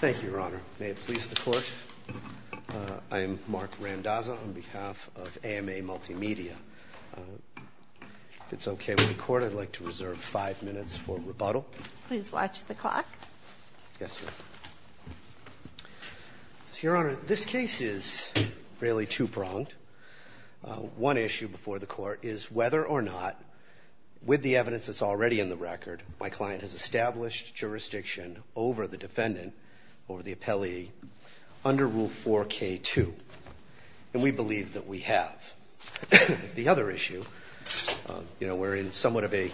Thank you, Your Honor. May it please the Court, I am Marc Randazzo on behalf of AMA Multimedia. If it's okay with the Court, I'd like to reserve five minutes for rebuttal. Please watch the clock. Yes, Your Honor. Your Honor, this case is really two-pronged. One issue before the Court is whether or not, with the evidence that's already in the record, my client has established jurisdiction over the defendant or the appellee under Rule 4k-2. And we believe that we have. The other issue, you know, we're in somewhat of a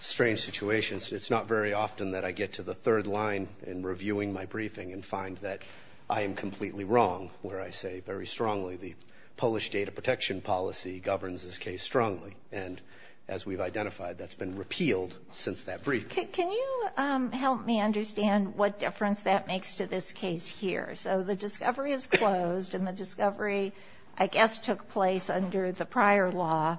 strange situation. It's not very often that I get to the third line in reviewing my briefing and find that I am completely wrong where I say very strongly the Polish data protection policy governs this case strongly. And as we've identified, that's been repealed since that briefing. Can you help me understand what difference that makes to this case here? So the discovery is closed and the discovery, I guess, took place under the prior law.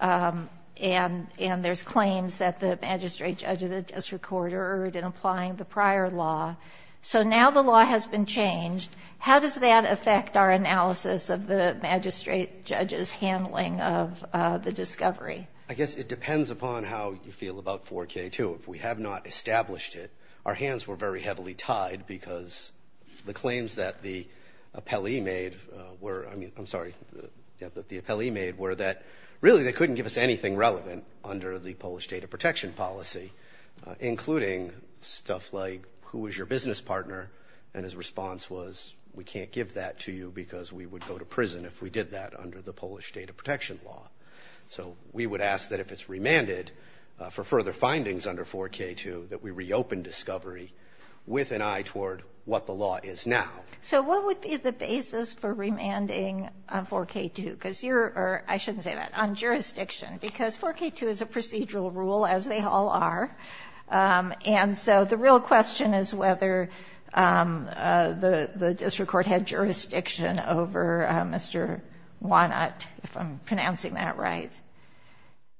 And there's claims that the magistrate judge of the district court erred in applying the prior law. So now the law has been changed. How does that affect our analysis of the magistrate judge's handling of the discovery? I guess it depends upon how you feel about 4k-2. If we have not established it, our hands were very heavily tied because the claims that the appellee made were, I mean, I'm sorry, the appellee made, were that really they couldn't give us anything relevant under the Polish data protection policy, including stuff like who is your business partner? And his response was we can't give that to you because we would go to prison if we did that under the Polish data protection law. So we would ask that if it's remanded for further findings under 4k-2 that we reopen discovery with an eye toward what the law is now. So what would be the basis for remanding on 4k-2? Because you're, or I shouldn't say that, on jurisdiction because 4k-2 is a procedural rule as they all are. And so the real question is whether the district court had jurisdiction over Mr. Wanut, if I'm pronouncing that right.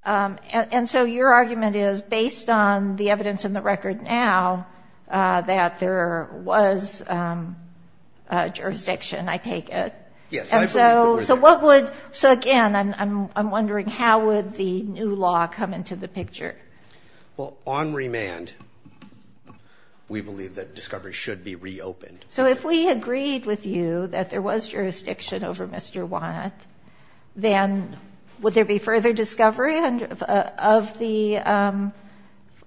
And so your argument is based on the evidence in the record now that there was jurisdiction, I take it. Yes. And so what would, so again, I'm wondering how would the new law come into the picture? Well on remand we believe that discovery should be reopened. So if we agreed with you that there was jurisdiction over Mr. Wanut, then would there be further discovery of the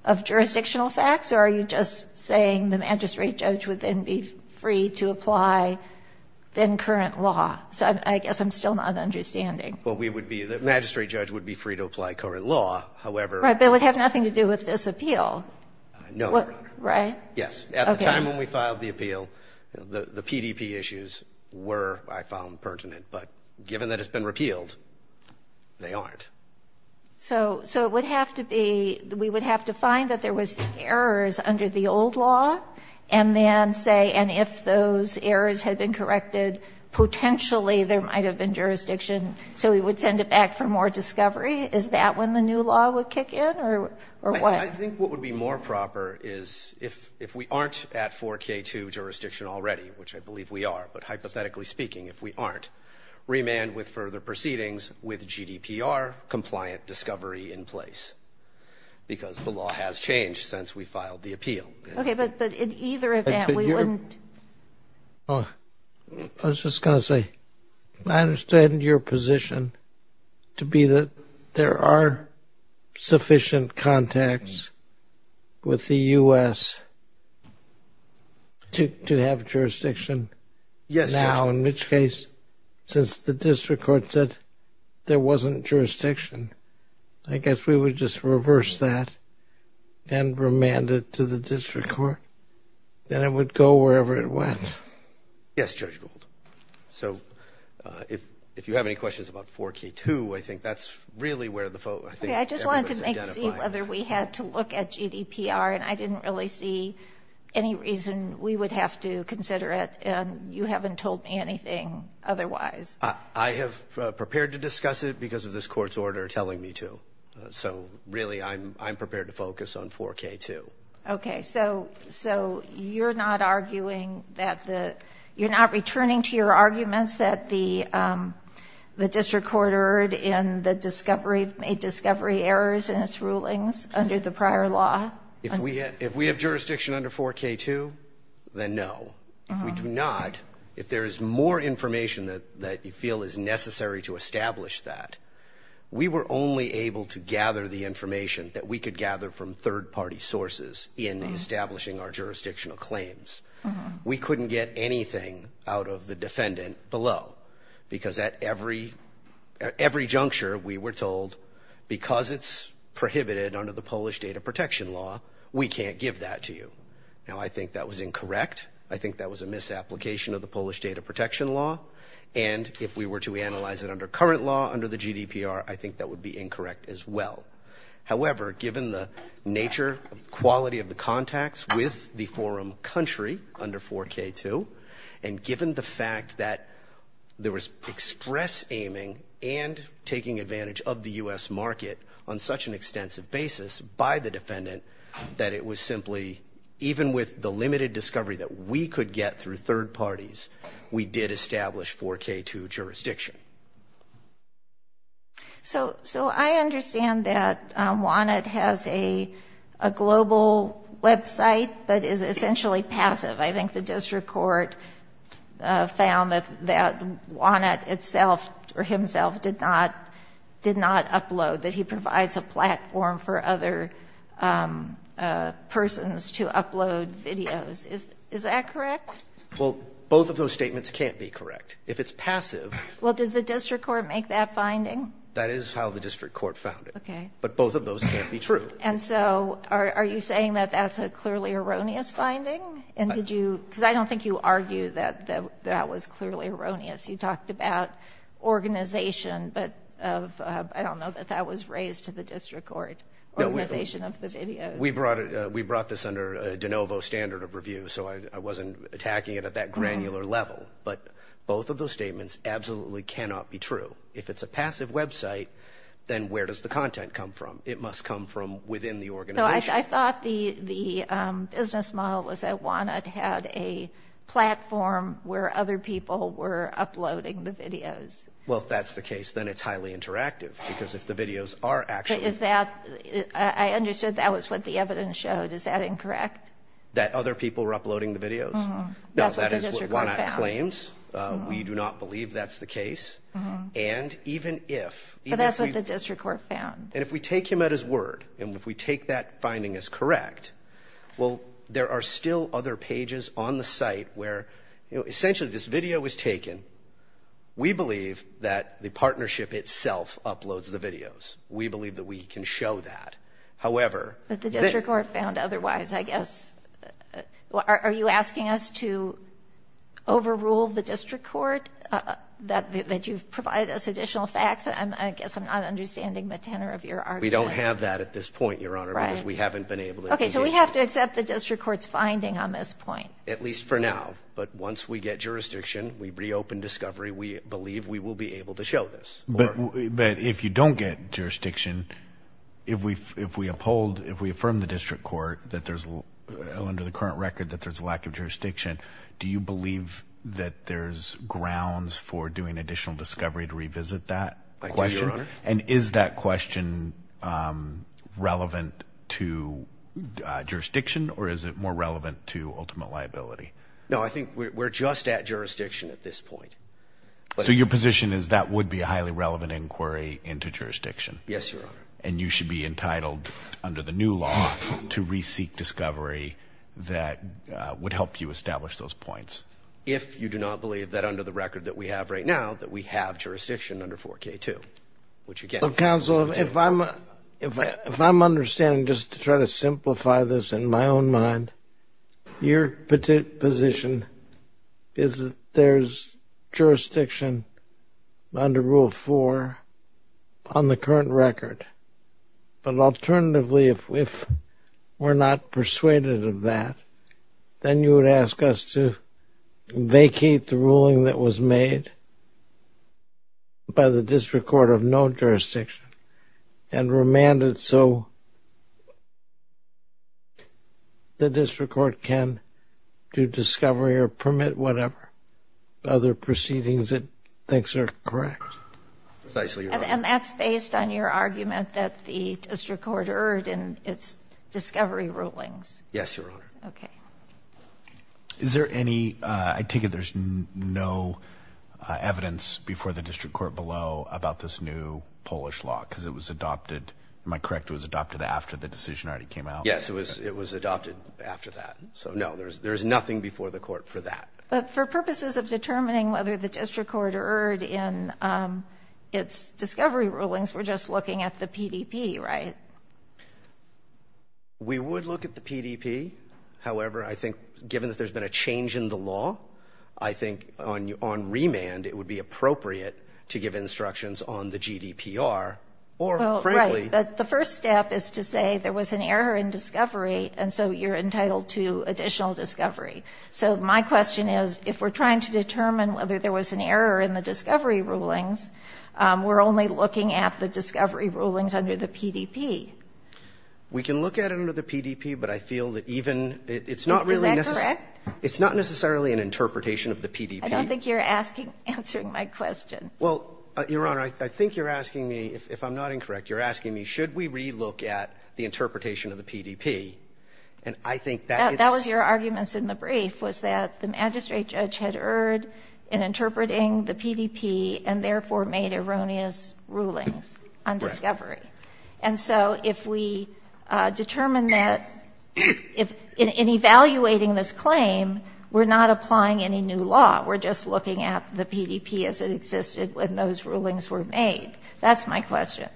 of jurisdictional facts? Or are you just saying the magistrate judge would then be free to apply then current law? So I guess I'm still not understanding. Well, we would be, the magistrate judge would be free to apply current law, however. Right, but it would have nothing to do with this appeal. No. Right? Yes. At the time when we filed the appeal, the PDP issues were, I found, pertinent. But given that it's been repealed, they aren't. So it would have to be, we would have to find that there was errors under the old law and then say, and if those errors had been corrected, potentially there might have been jurisdiction. So we would send it back for more discovery. Is that when the new law would kick in or what? I think what would be more proper is if we aren't at 4k2 jurisdiction already, which I believe we are, but hypothetically speaking if we aren't, remand with further proceedings with GDPR compliant discovery in place. Because the law has changed since we filed the appeal. Okay, but in either event, we wouldn't. I was just going to say, I understand your position to be that there are insufficient contacts with the U.S. to have jurisdiction now, in which case, since the district court said there wasn't jurisdiction, I guess we would just reverse that and remand it to the district court. Then it would go wherever it went. Yes, Judge Gould. So I think that's really where the focus is. I just wanted to see whether we had to look at GDPR and I didn't really see any reason we would have to consider it and you haven't told me anything otherwise. I have prepared to discuss it because of this court's order telling me to. So really I'm prepared to focus on 4k2. Okay, so you're not returning to your arguments that the district court erred in the discovery errors in its rulings under the prior law? If we have jurisdiction under 4k2, then no. If we do not, if there is more information that you feel is necessary to establish that, we were only able to gather the information that we could gather from third-party sources in establishing our jurisdictional claims. We couldn't get anything out of the defendant below. Because at every every juncture we were told because it's prohibited under the Polish data protection law, we can't give that to you. Now, I think that was incorrect. I think that was a misapplication of the Polish data protection law and if we were to analyze it under current law under the GDPR, I think that would be incorrect as well. However, given the nature, quality of the contacts with the forum country under 4k2 and given the fact that there was express aiming and taking advantage of the U.S. market on such an extensive basis by the defendant that it was simply even with the limited discovery that we could get through third parties, we did establish 4k2 jurisdiction. So I understand that WANET has a global website that is essentially passive. I think the district court found that that WANET itself or himself did not did not upload that he provides a platform for other persons to upload videos. Is that correct? Well, both of those statements can't be correct. If it's passive. Well, did the district court make that finding? That is how the district court found it. Okay. But both of those can't be true. And so are you saying that that's a clearly erroneous finding? And did you because I don't think you argue that that was clearly erroneous. You talked about organization, but of I don't know that that was raised to the district court. Organization of the videos. We brought it. We brought this under a de novo standard of review. So I wasn't attacking it at that granular level, but both of those statements absolutely cannot be true. If it's a passive website, then where does the content come from? It must come from within the organization. I thought the business model was that WANET had a platform where other people were uploading the videos. Well, if that's the case, then it's highly interactive because if the videos are actually... I understood that was what the evidence showed. Is that incorrect? That other people were uploading the videos? No, that is what WANET claims. We do not believe that's the case. And even if... But that's what the district court found. And if we take him at his word and if we take that finding as correct, well, there are still other pages on the site where, you know, essentially this video was taken. We believe that the partnership itself uploads the videos. We believe that we can show that. However... But the district court found otherwise, I guess. Are you asking us to overrule the district court that you've provided us additional facts? I guess I'm not understanding the tenor of your argument. We don't have that at this point, Your Honor, because we haven't been able to... Okay, so we have to accept the district court's finding on this point. At least for now. But once we get jurisdiction, we reopen discovery. We believe we will be able to show this. But if you don't get jurisdiction, if we uphold, if we affirm the district court that there's... Do you believe that there's grounds for doing additional discovery to revisit that question? I do, Your Honor. And is that question relevant to jurisdiction or is it more relevant to ultimate liability? No, I think we're just at jurisdiction at this point. So your position is that would be a highly relevant inquiry into jurisdiction? Yes, Your Honor. And you should be entitled under the new law to re-seek discovery that would help you establish those points? If you do not believe that under the record that we have right now that we have jurisdiction under 4k2, which again... Counsel, if I'm... If I'm understanding, just to try to simplify this in my own mind, your position is that there's jurisdiction under Rule 4 on the current record. But alternatively, if we're not persuaded of that, then you would ask us to vacate the ruling that was made by the district court of no jurisdiction and remand it so the district court can do discovery or permit whatever other proceedings it thinks are correct. Precisely, Your Honor. And that's based on your argument that the district court erred in its discovery rulings? Yes, Your Honor. Okay. Is there any... I take it there's no evidence before the district court below about this new Polish law because it was adopted. Am I correct? It was adopted after the decision already came out? Yes, it was adopted after that. So no, there's nothing before the court for that. But for purposes of determining whether the district court erred in its discovery rulings, we're just looking at the PDP, right? We would look at the PDP. However, I think given that there's been a change in the law, I think on remand, it would be appropriate to give instructions on the GDPR or frankly... The first step is to say there was an error in discovery and so you're entitled to additional discovery. So my question is if we're trying to determine whether there was an error in the discovery rulings, we're only looking at the discovery rulings under the PDP. We can look at it under the PDP, but I feel that even... Is that correct? It's not necessarily an interpretation of the PDP. I don't think you're asking answering my question. Well, Your Honor, I think you're asking me if I'm not incorrect, you're asking me should we re-look at the interpretation of the PDP? And I think that... That was your arguments in the brief was that the magistrate judge had erred in interpreting the PDP and therefore made erroneous rulings on discovery. And so if we determine that... In evaluating this claim, we're not applying any new law. We're just looking at the PDP as it existed when those rulings were made. That's my question.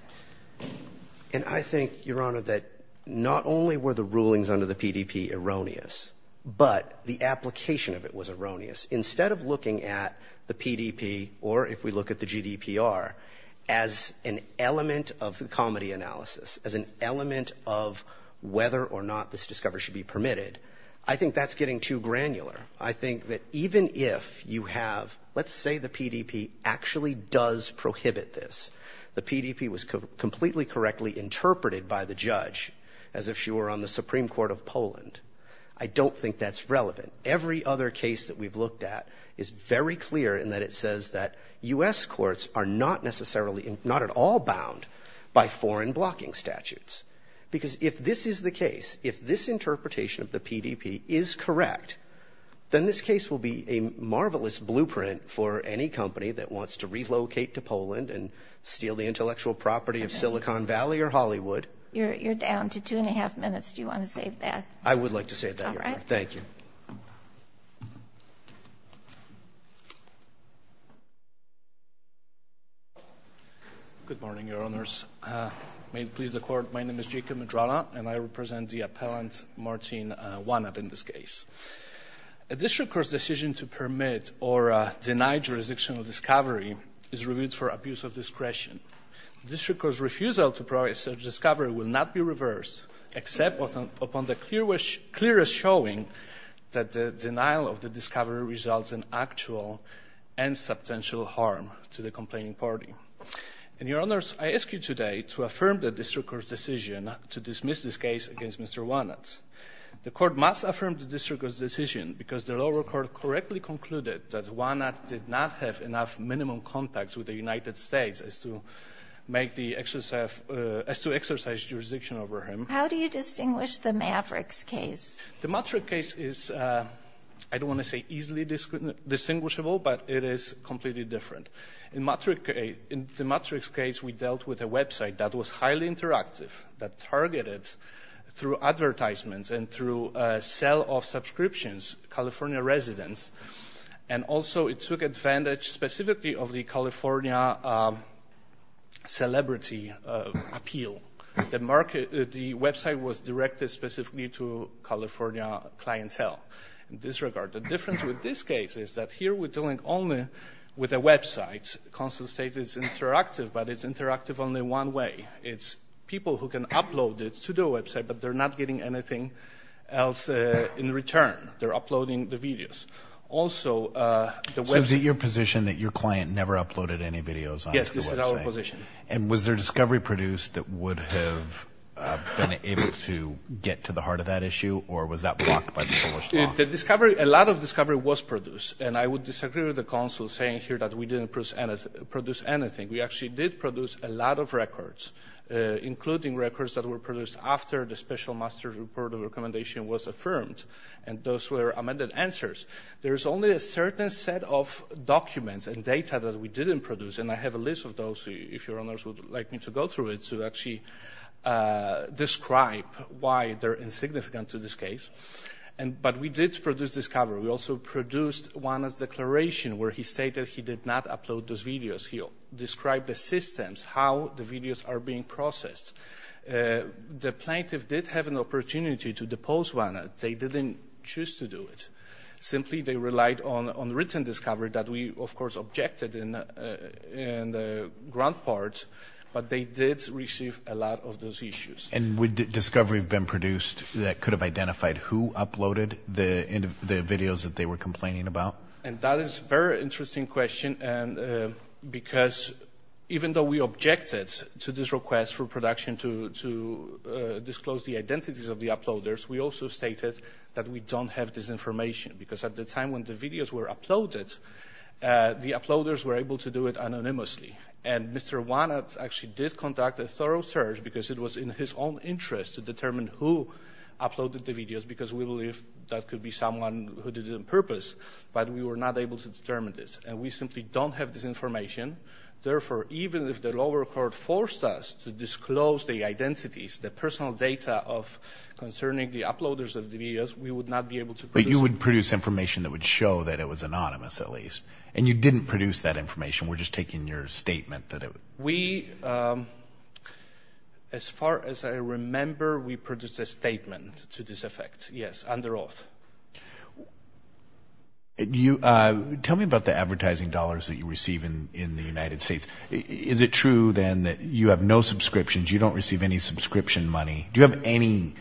And I think, Your Honor, that not only were the rulings under the PDP erroneous, but the application of it was erroneous. Instead of looking at the PDP or if we look at the GDPR, as an element of the comedy analysis, as an element of whether or not this discovery should be permitted, I think that's getting too granular. I think that even if you have... Let's say the PDP actually does prohibit this. The PDP was completely correctly interpreted by the judge as if she were on the Supreme Court of Poland. I don't think that's relevant. Every other case that we've looked at is very clear in that it says that U.S. courts are not necessarily, not at all bound by foreign blocking statutes. Because if this is the case, if this interpretation of the PDP is correct, then this case will be a marvelous blueprint for any company that wants to relocate to Poland and steal the intellectual property of Silicon Valley or Hollywood. You're down to two and a half minutes. Do you want to save that? I would like to save that, Your Honor. Thank you. Good morning, Your Honors. May it please the Court, my name is Jacob Medrana, and I represent the appellant Martin Wannab in this case. A district court's decision to permit or deny jurisdictional discovery is reviewed for abuse of discretion. The district court's refusal to provide such discovery will not be reversed, except upon the clearest showing that the denial of the discovery results in actual and substantial harm to the complaining party. And Your Honors, I ask you today to affirm the district court's decision to dismiss this case against Mr. Wannab. The Court must affirm the district court's decision because the lower court correctly concluded that Wannab did not have enough minimum contacts with the United States as to exercise jurisdiction over him. How do you distinguish the Mavericks case? The Maverick case is, I don't want to say easily distinguishable, but it is completely different. In the Maverick case, we dealt with a website that was highly interactive, that targeted through advertisements and through a sale of subscriptions California residents, and also it took advantage specifically of the California celebrity appeal. The website was directed specifically to California clientele. In this regard, the difference with this case is that here we're dealing only with a website. Consul states it's interactive, but it's interactive only one way. It's people who can upload it to the website, but they're not getting anything else in return. They're uploading the videos. So is it your position that your client never uploaded any videos? Yes, this is our position. And was there discovery produced that would have been able to get to the discovery? A lot of discovery was produced, and I would disagree with the consul saying here that we didn't produce anything. We actually did produce a lot of records, including records that were produced after the special master's report of recommendation was affirmed, and those were amended answers. There's only a certain set of documents and data that we didn't produce, and I have a list of those if your honors would like me to go through it to actually describe why they're insignificant to this case. But we did produce discovery. We also produced Juana's declaration where he stated he did not upload those videos. He described the systems, how the videos are being processed. The plaintiff did have an opportunity to depose Juana. They didn't choose to do it. Simply, they relied on written discovery that we, of course, objected in ground part, but they did receive a lot of those issues. And would discovery have been produced that could have identified who uploaded the videos that they were complaining about? And that is a very interesting question, because even though we objected to this request for production to disclose the identities of the uploaders, we also stated that we don't have this information, because at the time when the videos were uploaded, the uploaders were able to and Mr. Juana actually did conduct a thorough search, because it was in his own interest to determine who uploaded the videos, because we believe that could be someone who did it on purpose. But we were not able to determine this, and we simply don't have this information. Therefore, even if the lower court forced us to disclose the identities, the personal data of concerning the uploaders of the videos, we would not be able to. But you would produce information that would show that it was anonymous, at least, and you didn't produce that information. We're just taking your statement that it was. We, as far as I remember, we produced a statement to this effect. Yes, under oath. Tell me about the advertising dollars that you receive in the United States. Is it true then that you have no subscriptions, you don't receive any subscription money? Do you have any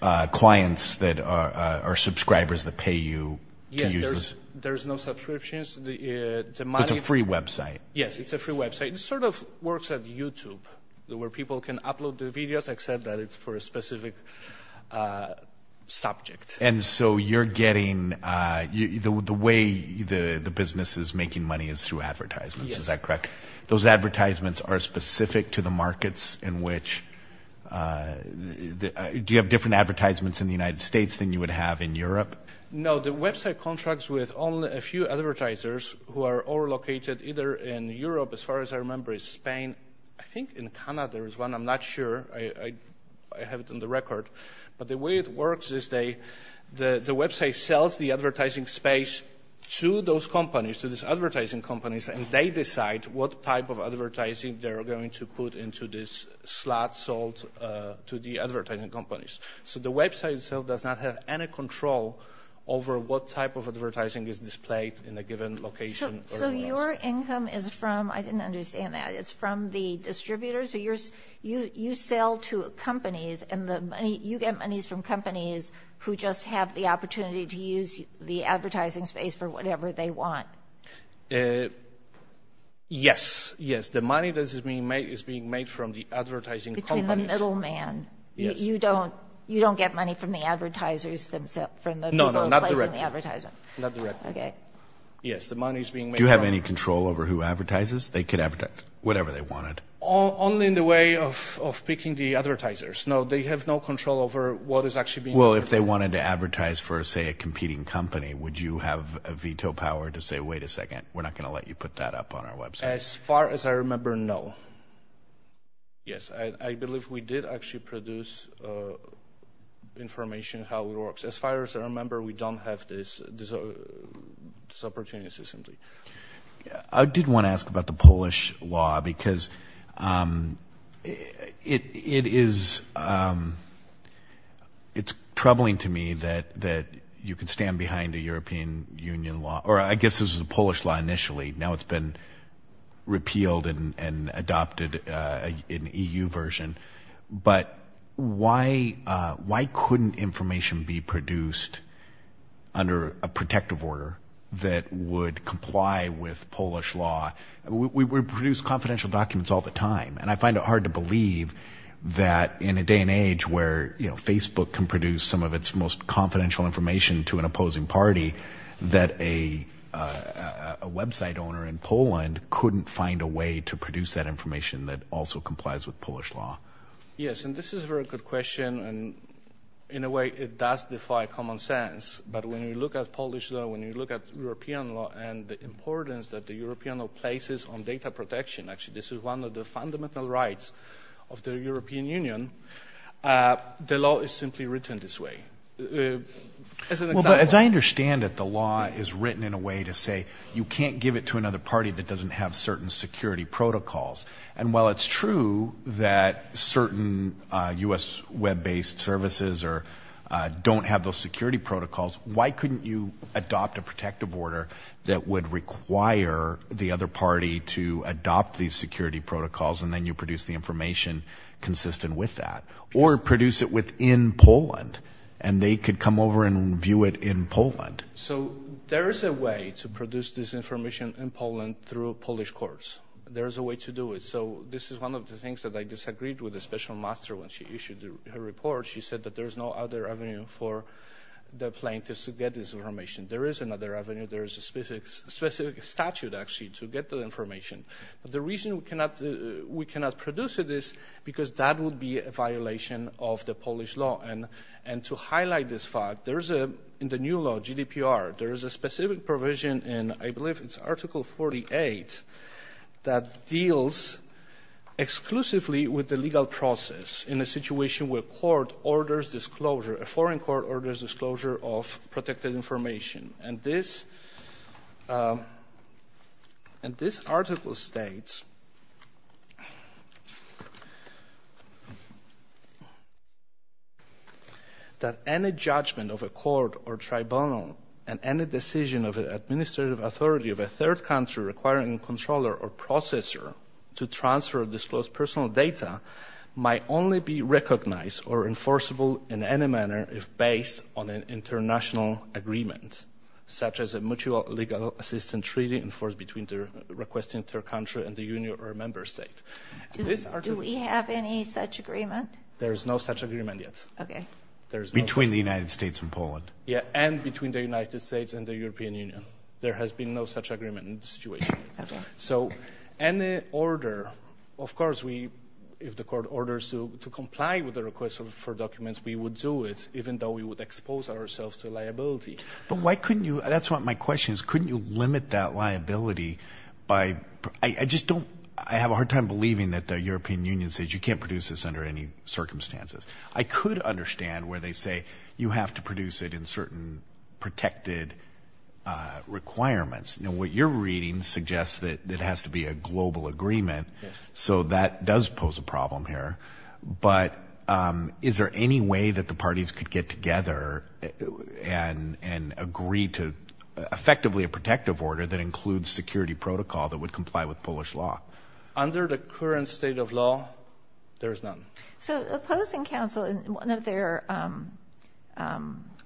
clients that are subscribers that pay you to use this? There's no subscriptions. It's a free website? Yes, it's a free website. It sort of works at YouTube, where people can upload the videos, except that it's for a specific subject. And so you're getting, the way the business is making money is through advertisements, is that correct? Those advertisements are specific to the markets in which, do you have different advertisements in the United States than you have in the United States? The website contracts with only a few advertisers who are all located either in Europe, as far as I remember, Spain, I think in Canada there is one, I'm not sure. I have it on the record. But the way it works is the website sells the advertising space to those companies, to these advertising companies, and they decide what type of advertising they're going to put into this slot sold to the advertising companies. So the website does not have any control over what type of advertising is displayed in a given location. So your income is from, I didn't understand that, it's from the distributors? You sell to companies and you get monies from companies who just have the opportunity to use the advertising space for whatever they want? Yes, yes. The money that is being made is being made from the advertising companies. Between the middleman, you don't get money from the advertisers themselves? No, not directly. Okay. Yes, the money is being made. Do you have any control over who advertises? They could advertise whatever they wanted. Only in the way of picking the advertisers. No, they have no control over what is actually being advertised. Well, if they wanted to advertise for, say, a competing company, would you have a veto power to say, wait a second, we're not going to let you put that up on our website? As far as I remember, no. Yes, I believe we did actually produce information how it works. As far as I remember, we don't have this opportunity system. I did want to ask about the Polish law because it's troubling to me that you can stand behind a European Union law, or I guess this is a Polish law initially, now it's been repealed and adopted an EU version. But why couldn't information be produced under a protective order that would comply with Polish law? We produce confidential documents all the time, and I find it hard to believe that in a day and age where, you know, Facebook can an opposing party, that a website owner in Poland couldn't find a way to produce that information that also complies with Polish law. Yes, and this is a very good question, and in a way it does defy common sense. But when you look at Polish law, when you look at European law, and the importance that the European law places on data protection, actually this is one of the fundamental rights of the European Union, the law is simply written this way. As I understand it, the law is written in a way to say you can't give it to another party that doesn't have certain security protocols. And while it's true that certain US web-based services don't have those security protocols, why couldn't you adopt a protective order that would require the other party to adopt these consistent with that? Or produce it within Poland, and they could come over and view it in Poland? So there is a way to produce this information in Poland through Polish courts. There is a way to do it. So this is one of the things that I disagreed with a special master when she issued her report. She said that there is no other avenue for the plaintiffs to get this information. There is another avenue, there is a specific statute actually to get the information. But the reason we cannot produce this is because that would be a violation of the Polish law. And to highlight this fact, there is in the new law, GDPR, there is a specific provision in, I believe it's Article 48, that deals exclusively with the legal process in a situation where a court orders disclosure, a foreign court orders disclosure of protected information. And this article states that any judgment of a court or tribunal and any decision of an administrative authority of a third country requiring a controller or processor to transfer or disclose personal data might only be recognized or enforceable in any manner if based on an international agreement, such as a legal assistance treaty enforced between the requesting third country and the union or member state. Do we have any such agreement? There is no such agreement yet. Okay. Between the United States and Poland. Yeah. And between the United States and the European Union. There has been no such agreement in this situation. So any order, of course, if the court orders to comply with the request for documents, we would do it, even though we would expose ourselves to liability. But why couldn't you, that's what my question is, couldn't you limit that liability by, I just don't, I have a hard time believing that the European Union says you can't produce this under any circumstances. I could understand where they say you have to produce it in certain protected requirements. Now, what you're reading suggests that it has to be a global agreement. So that does pose a problem here. But is there any way that the parties could get together and agree to effectively a protective order that includes security protocol that would comply with Polish law? Under the current state of law, there is none. So opposing counsel in one of their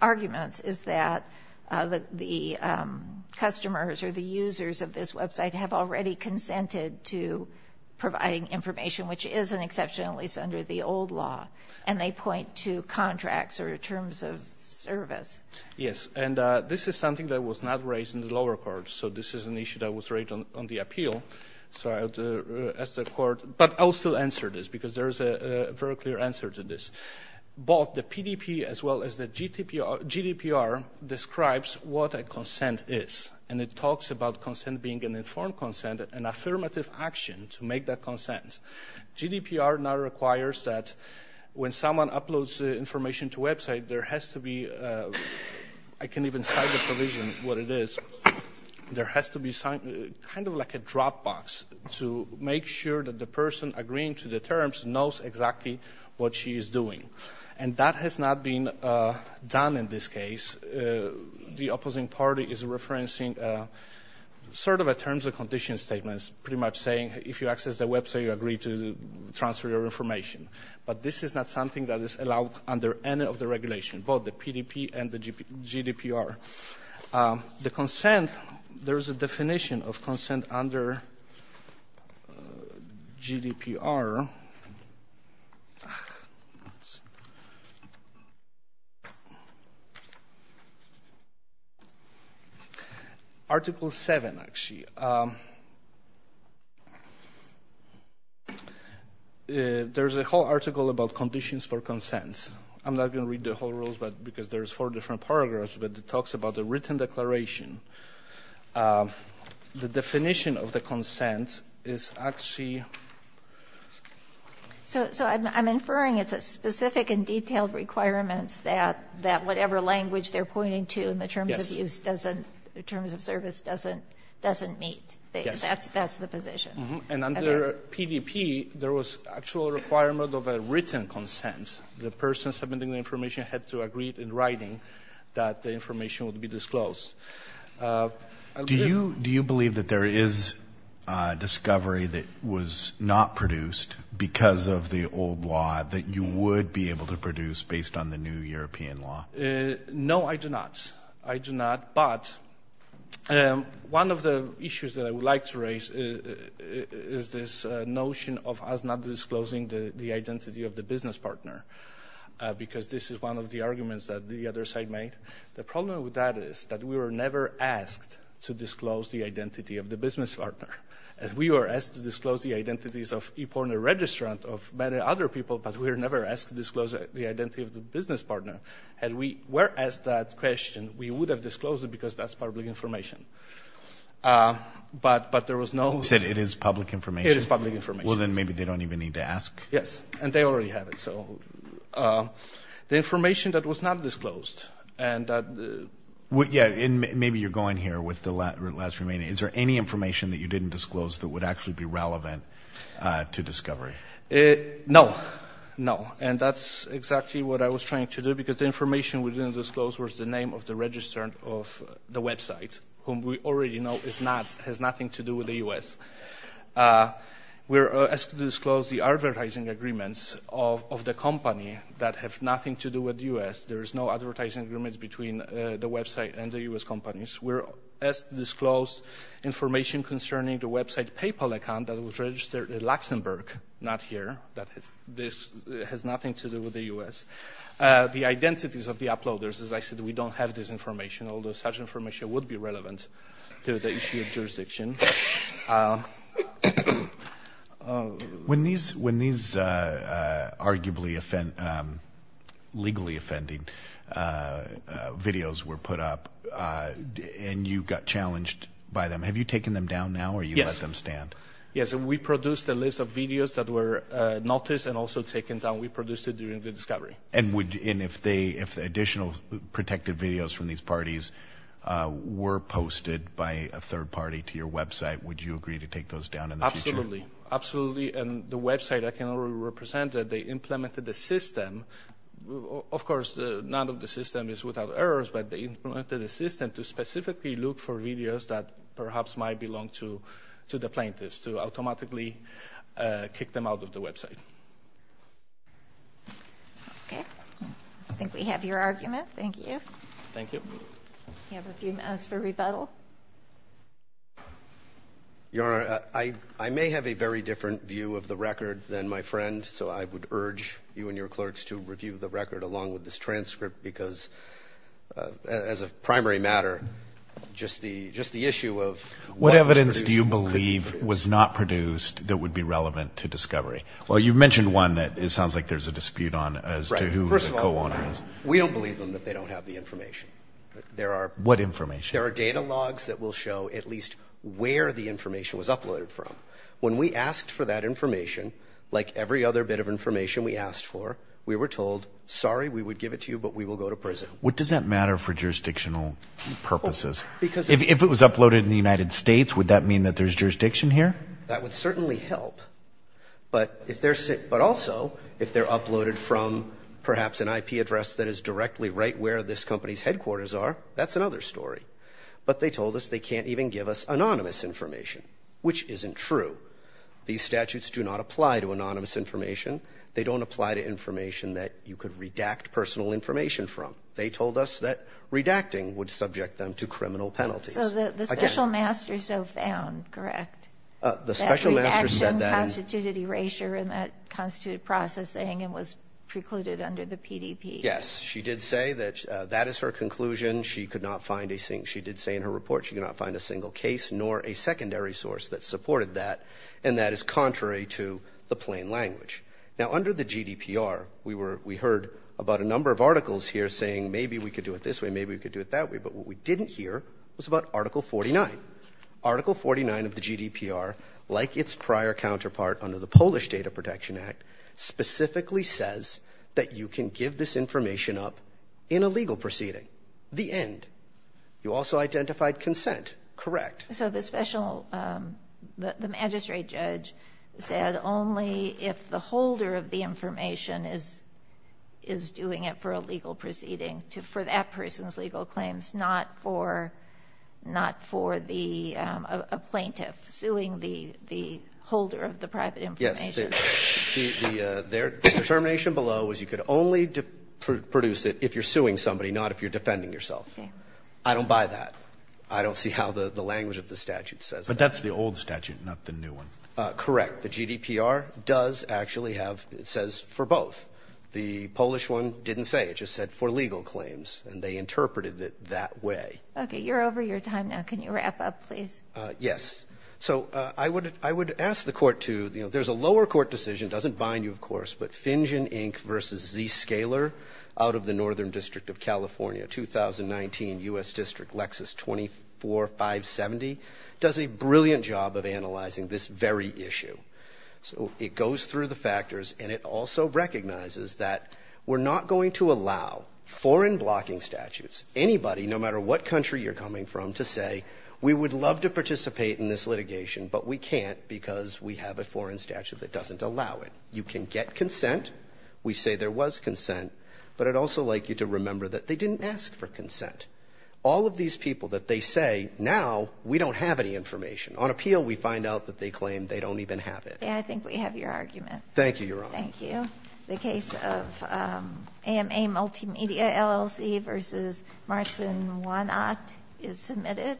arguments is that the customers or the users of this website have already consented to an exception, at least under the old law. And they point to contracts or terms of service. Yes. And this is something that was not raised in the lower court. So this is an issue that was raised on the appeal. So I'll ask the court, but I'll still answer this because there is a very clear answer to this. Both the PDP as well as the GDPR describes what a consent is. And it now requires that when someone uploads information to website, there has to be, I can't even cite the provision what it is, there has to be kind of like a drop box to make sure that the person agreeing to the terms knows exactly what she is doing. And that has not been done in this case. The opposing party is referencing sort of a terms of condition statement. It's pretty much saying, if you access the website, you agree to transfer your information. But this is not something that is allowed under any of the regulation, both the PDP and the GDPR. The consent, there's a definition of consent under GDPR. Let's see. Article seven, actually. There's a whole article about conditions for consent. I'm not going to read the whole rules, because there's four different paragraphs, but it talks about the written declaration. The definition of the consent is actually... So I'm inferring it's a specific and detailed requirement that whatever language they're pointing to in the terms of use doesn't, in terms of service, doesn't meet. That's the position. And under PDP, there was actual requirement of a written consent. The person submitting the writing that the information would be disclosed. Do you believe that there is a discovery that was not produced because of the old law that you would be able to produce based on the new European law? No, I do not. I do not. But one of the issues that I would like to raise is this notion of us not disclosing the identity of the business partner, because this is one of the arguments that the other side made. The problem with that is that we were never asked to disclose the identity of the business partner. And we were asked to disclose the identities of e-pornor registrant, of many other people, but we were never asked to disclose the identity of the business partner. Had we were asked that question, we would have disclosed it because that's public information. But there was no... You said it is public information? It is public information. Well, then maybe they don't even need to ask? Yes, and they already have it. So the information that was not disclosed and that... Yeah, and maybe you're going here with the last remaining... Is there any information that you didn't disclose that would actually be relevant to discovery? No, no. And that's exactly what I was trying to do because the information we didn't disclose was the name of the registrant of the website, whom we already know has nothing to do with the U.S. We were asked to disclose the advertising agreements of the company that have nothing to do with the U.S. There is no advertising agreements between the website and the U.S. companies. We were asked to disclose information concerning the website PayPal account that was registered in Luxembourg. Not here. This has nothing to do with the U.S. The identities of the uploaders, as I said, we don't have this information, although such information would be useful. When these arguably legally offending videos were put up and you got challenged by them, have you taken them down now or you let them stand? Yes, we produced a list of videos that were noticed and also taken down. We produced it during the discovery. And if additional protected videos from these parties were posted by a third party to your website, would you agree to take those down in the future? Absolutely. And the website, I can already represent that they implemented a system. Of course, none of the system is without errors, but they implemented a system to specifically look for videos that perhaps might belong to the plaintiffs to automatically kick them out of the website. Okay. I think we have your argument. Thank you. Thank you. You have a few minutes for rebuttal. Your Honor, I may have a very different view of the record than my friend, so I would urge you and your clerks to review the record along with this transcript because as a primary matter, just the issue of what evidence do you believe was not produced that would be relevant to discovery? Well, you've mentioned one that it sounds like there's a dispute on as to who the co-owner is. We don't believe them that they don't have the information. What information? There are data logs that will show at least where the information was uploaded from. When we asked for that information, like every other bit of information we asked for, we were told, sorry, we would give it to you, but we will go to prison. What does that matter for jurisdictional purposes? Because if it was uploaded in the United States, would that mean that there's jurisdiction here? That would certainly help. But also, if they're uploaded from perhaps an IP address that is directly right where this company's headquarters are, that's another story. But they told us they can't even give us anonymous information, which isn't true. These statutes do not apply to anonymous information. They don't apply to information that you could redact personal information from. They told us that redacting would subject them to criminal penalties. So the special masters have found, correct, that redaction constituted erasure and that constituted processing and was precluded under the PDP. Yes, she did say that that is her conclusion. She did say in her report she could not find a single case nor a secondary source that supported that, and that is contrary to the plain language. Now under the GDPR, we heard about a number of articles here saying maybe we could do it this way, maybe we could do it that way. But what we didn't hear was about Article 49. Article 49 of the GDPR, like its prior counterpart under the Polish Data Protection Act, specifically says that you can give this information up in a legal proceeding, the end. You also identified consent, correct? So the magistrate judge said only if the holder of the information is doing it for a legal proceeding for that person's legal claims, not for a plaintiff suing the holder of the private information. Yes, the determination below was you could only produce it if you're suing somebody, not if you're defending yourself. I don't buy that. I don't see how the language of the statute says that. But that's the old statute, not the new one. Correct. The GDPR does actually have, it says for both. The Polish one didn't say, it just said for legal claims, and they interpreted it that way. Okay, you're over your time now. Can you wrap up please? Yes. So I would ask the court to, there's a lower court decision, doesn't bind you of course, but Fingen, Inc. versus Zscaler out of the Northern District of California, 2019, U.S. District, Lexis 24570, does a brilliant job of analyzing this very issue. So it goes through the factors, and it also recognizes that we're not going to allow foreign blocking statutes, anybody, no matter what country you're coming from, to say, we would love to participate in this litigation, but we can't because we have a foreign statute that doesn't allow it. You can get consent. We say there was consent. But I'd also like you to remember that they didn't ask for consent. All of these people that they say, now we don't have any information. On appeal, we find out that they claim they don't even have it. I think we have your argument. Thank you, Your Honor. Thank you. The case of AMA Multimedia LLC versus Marcin Wanat is submitted. Thank you.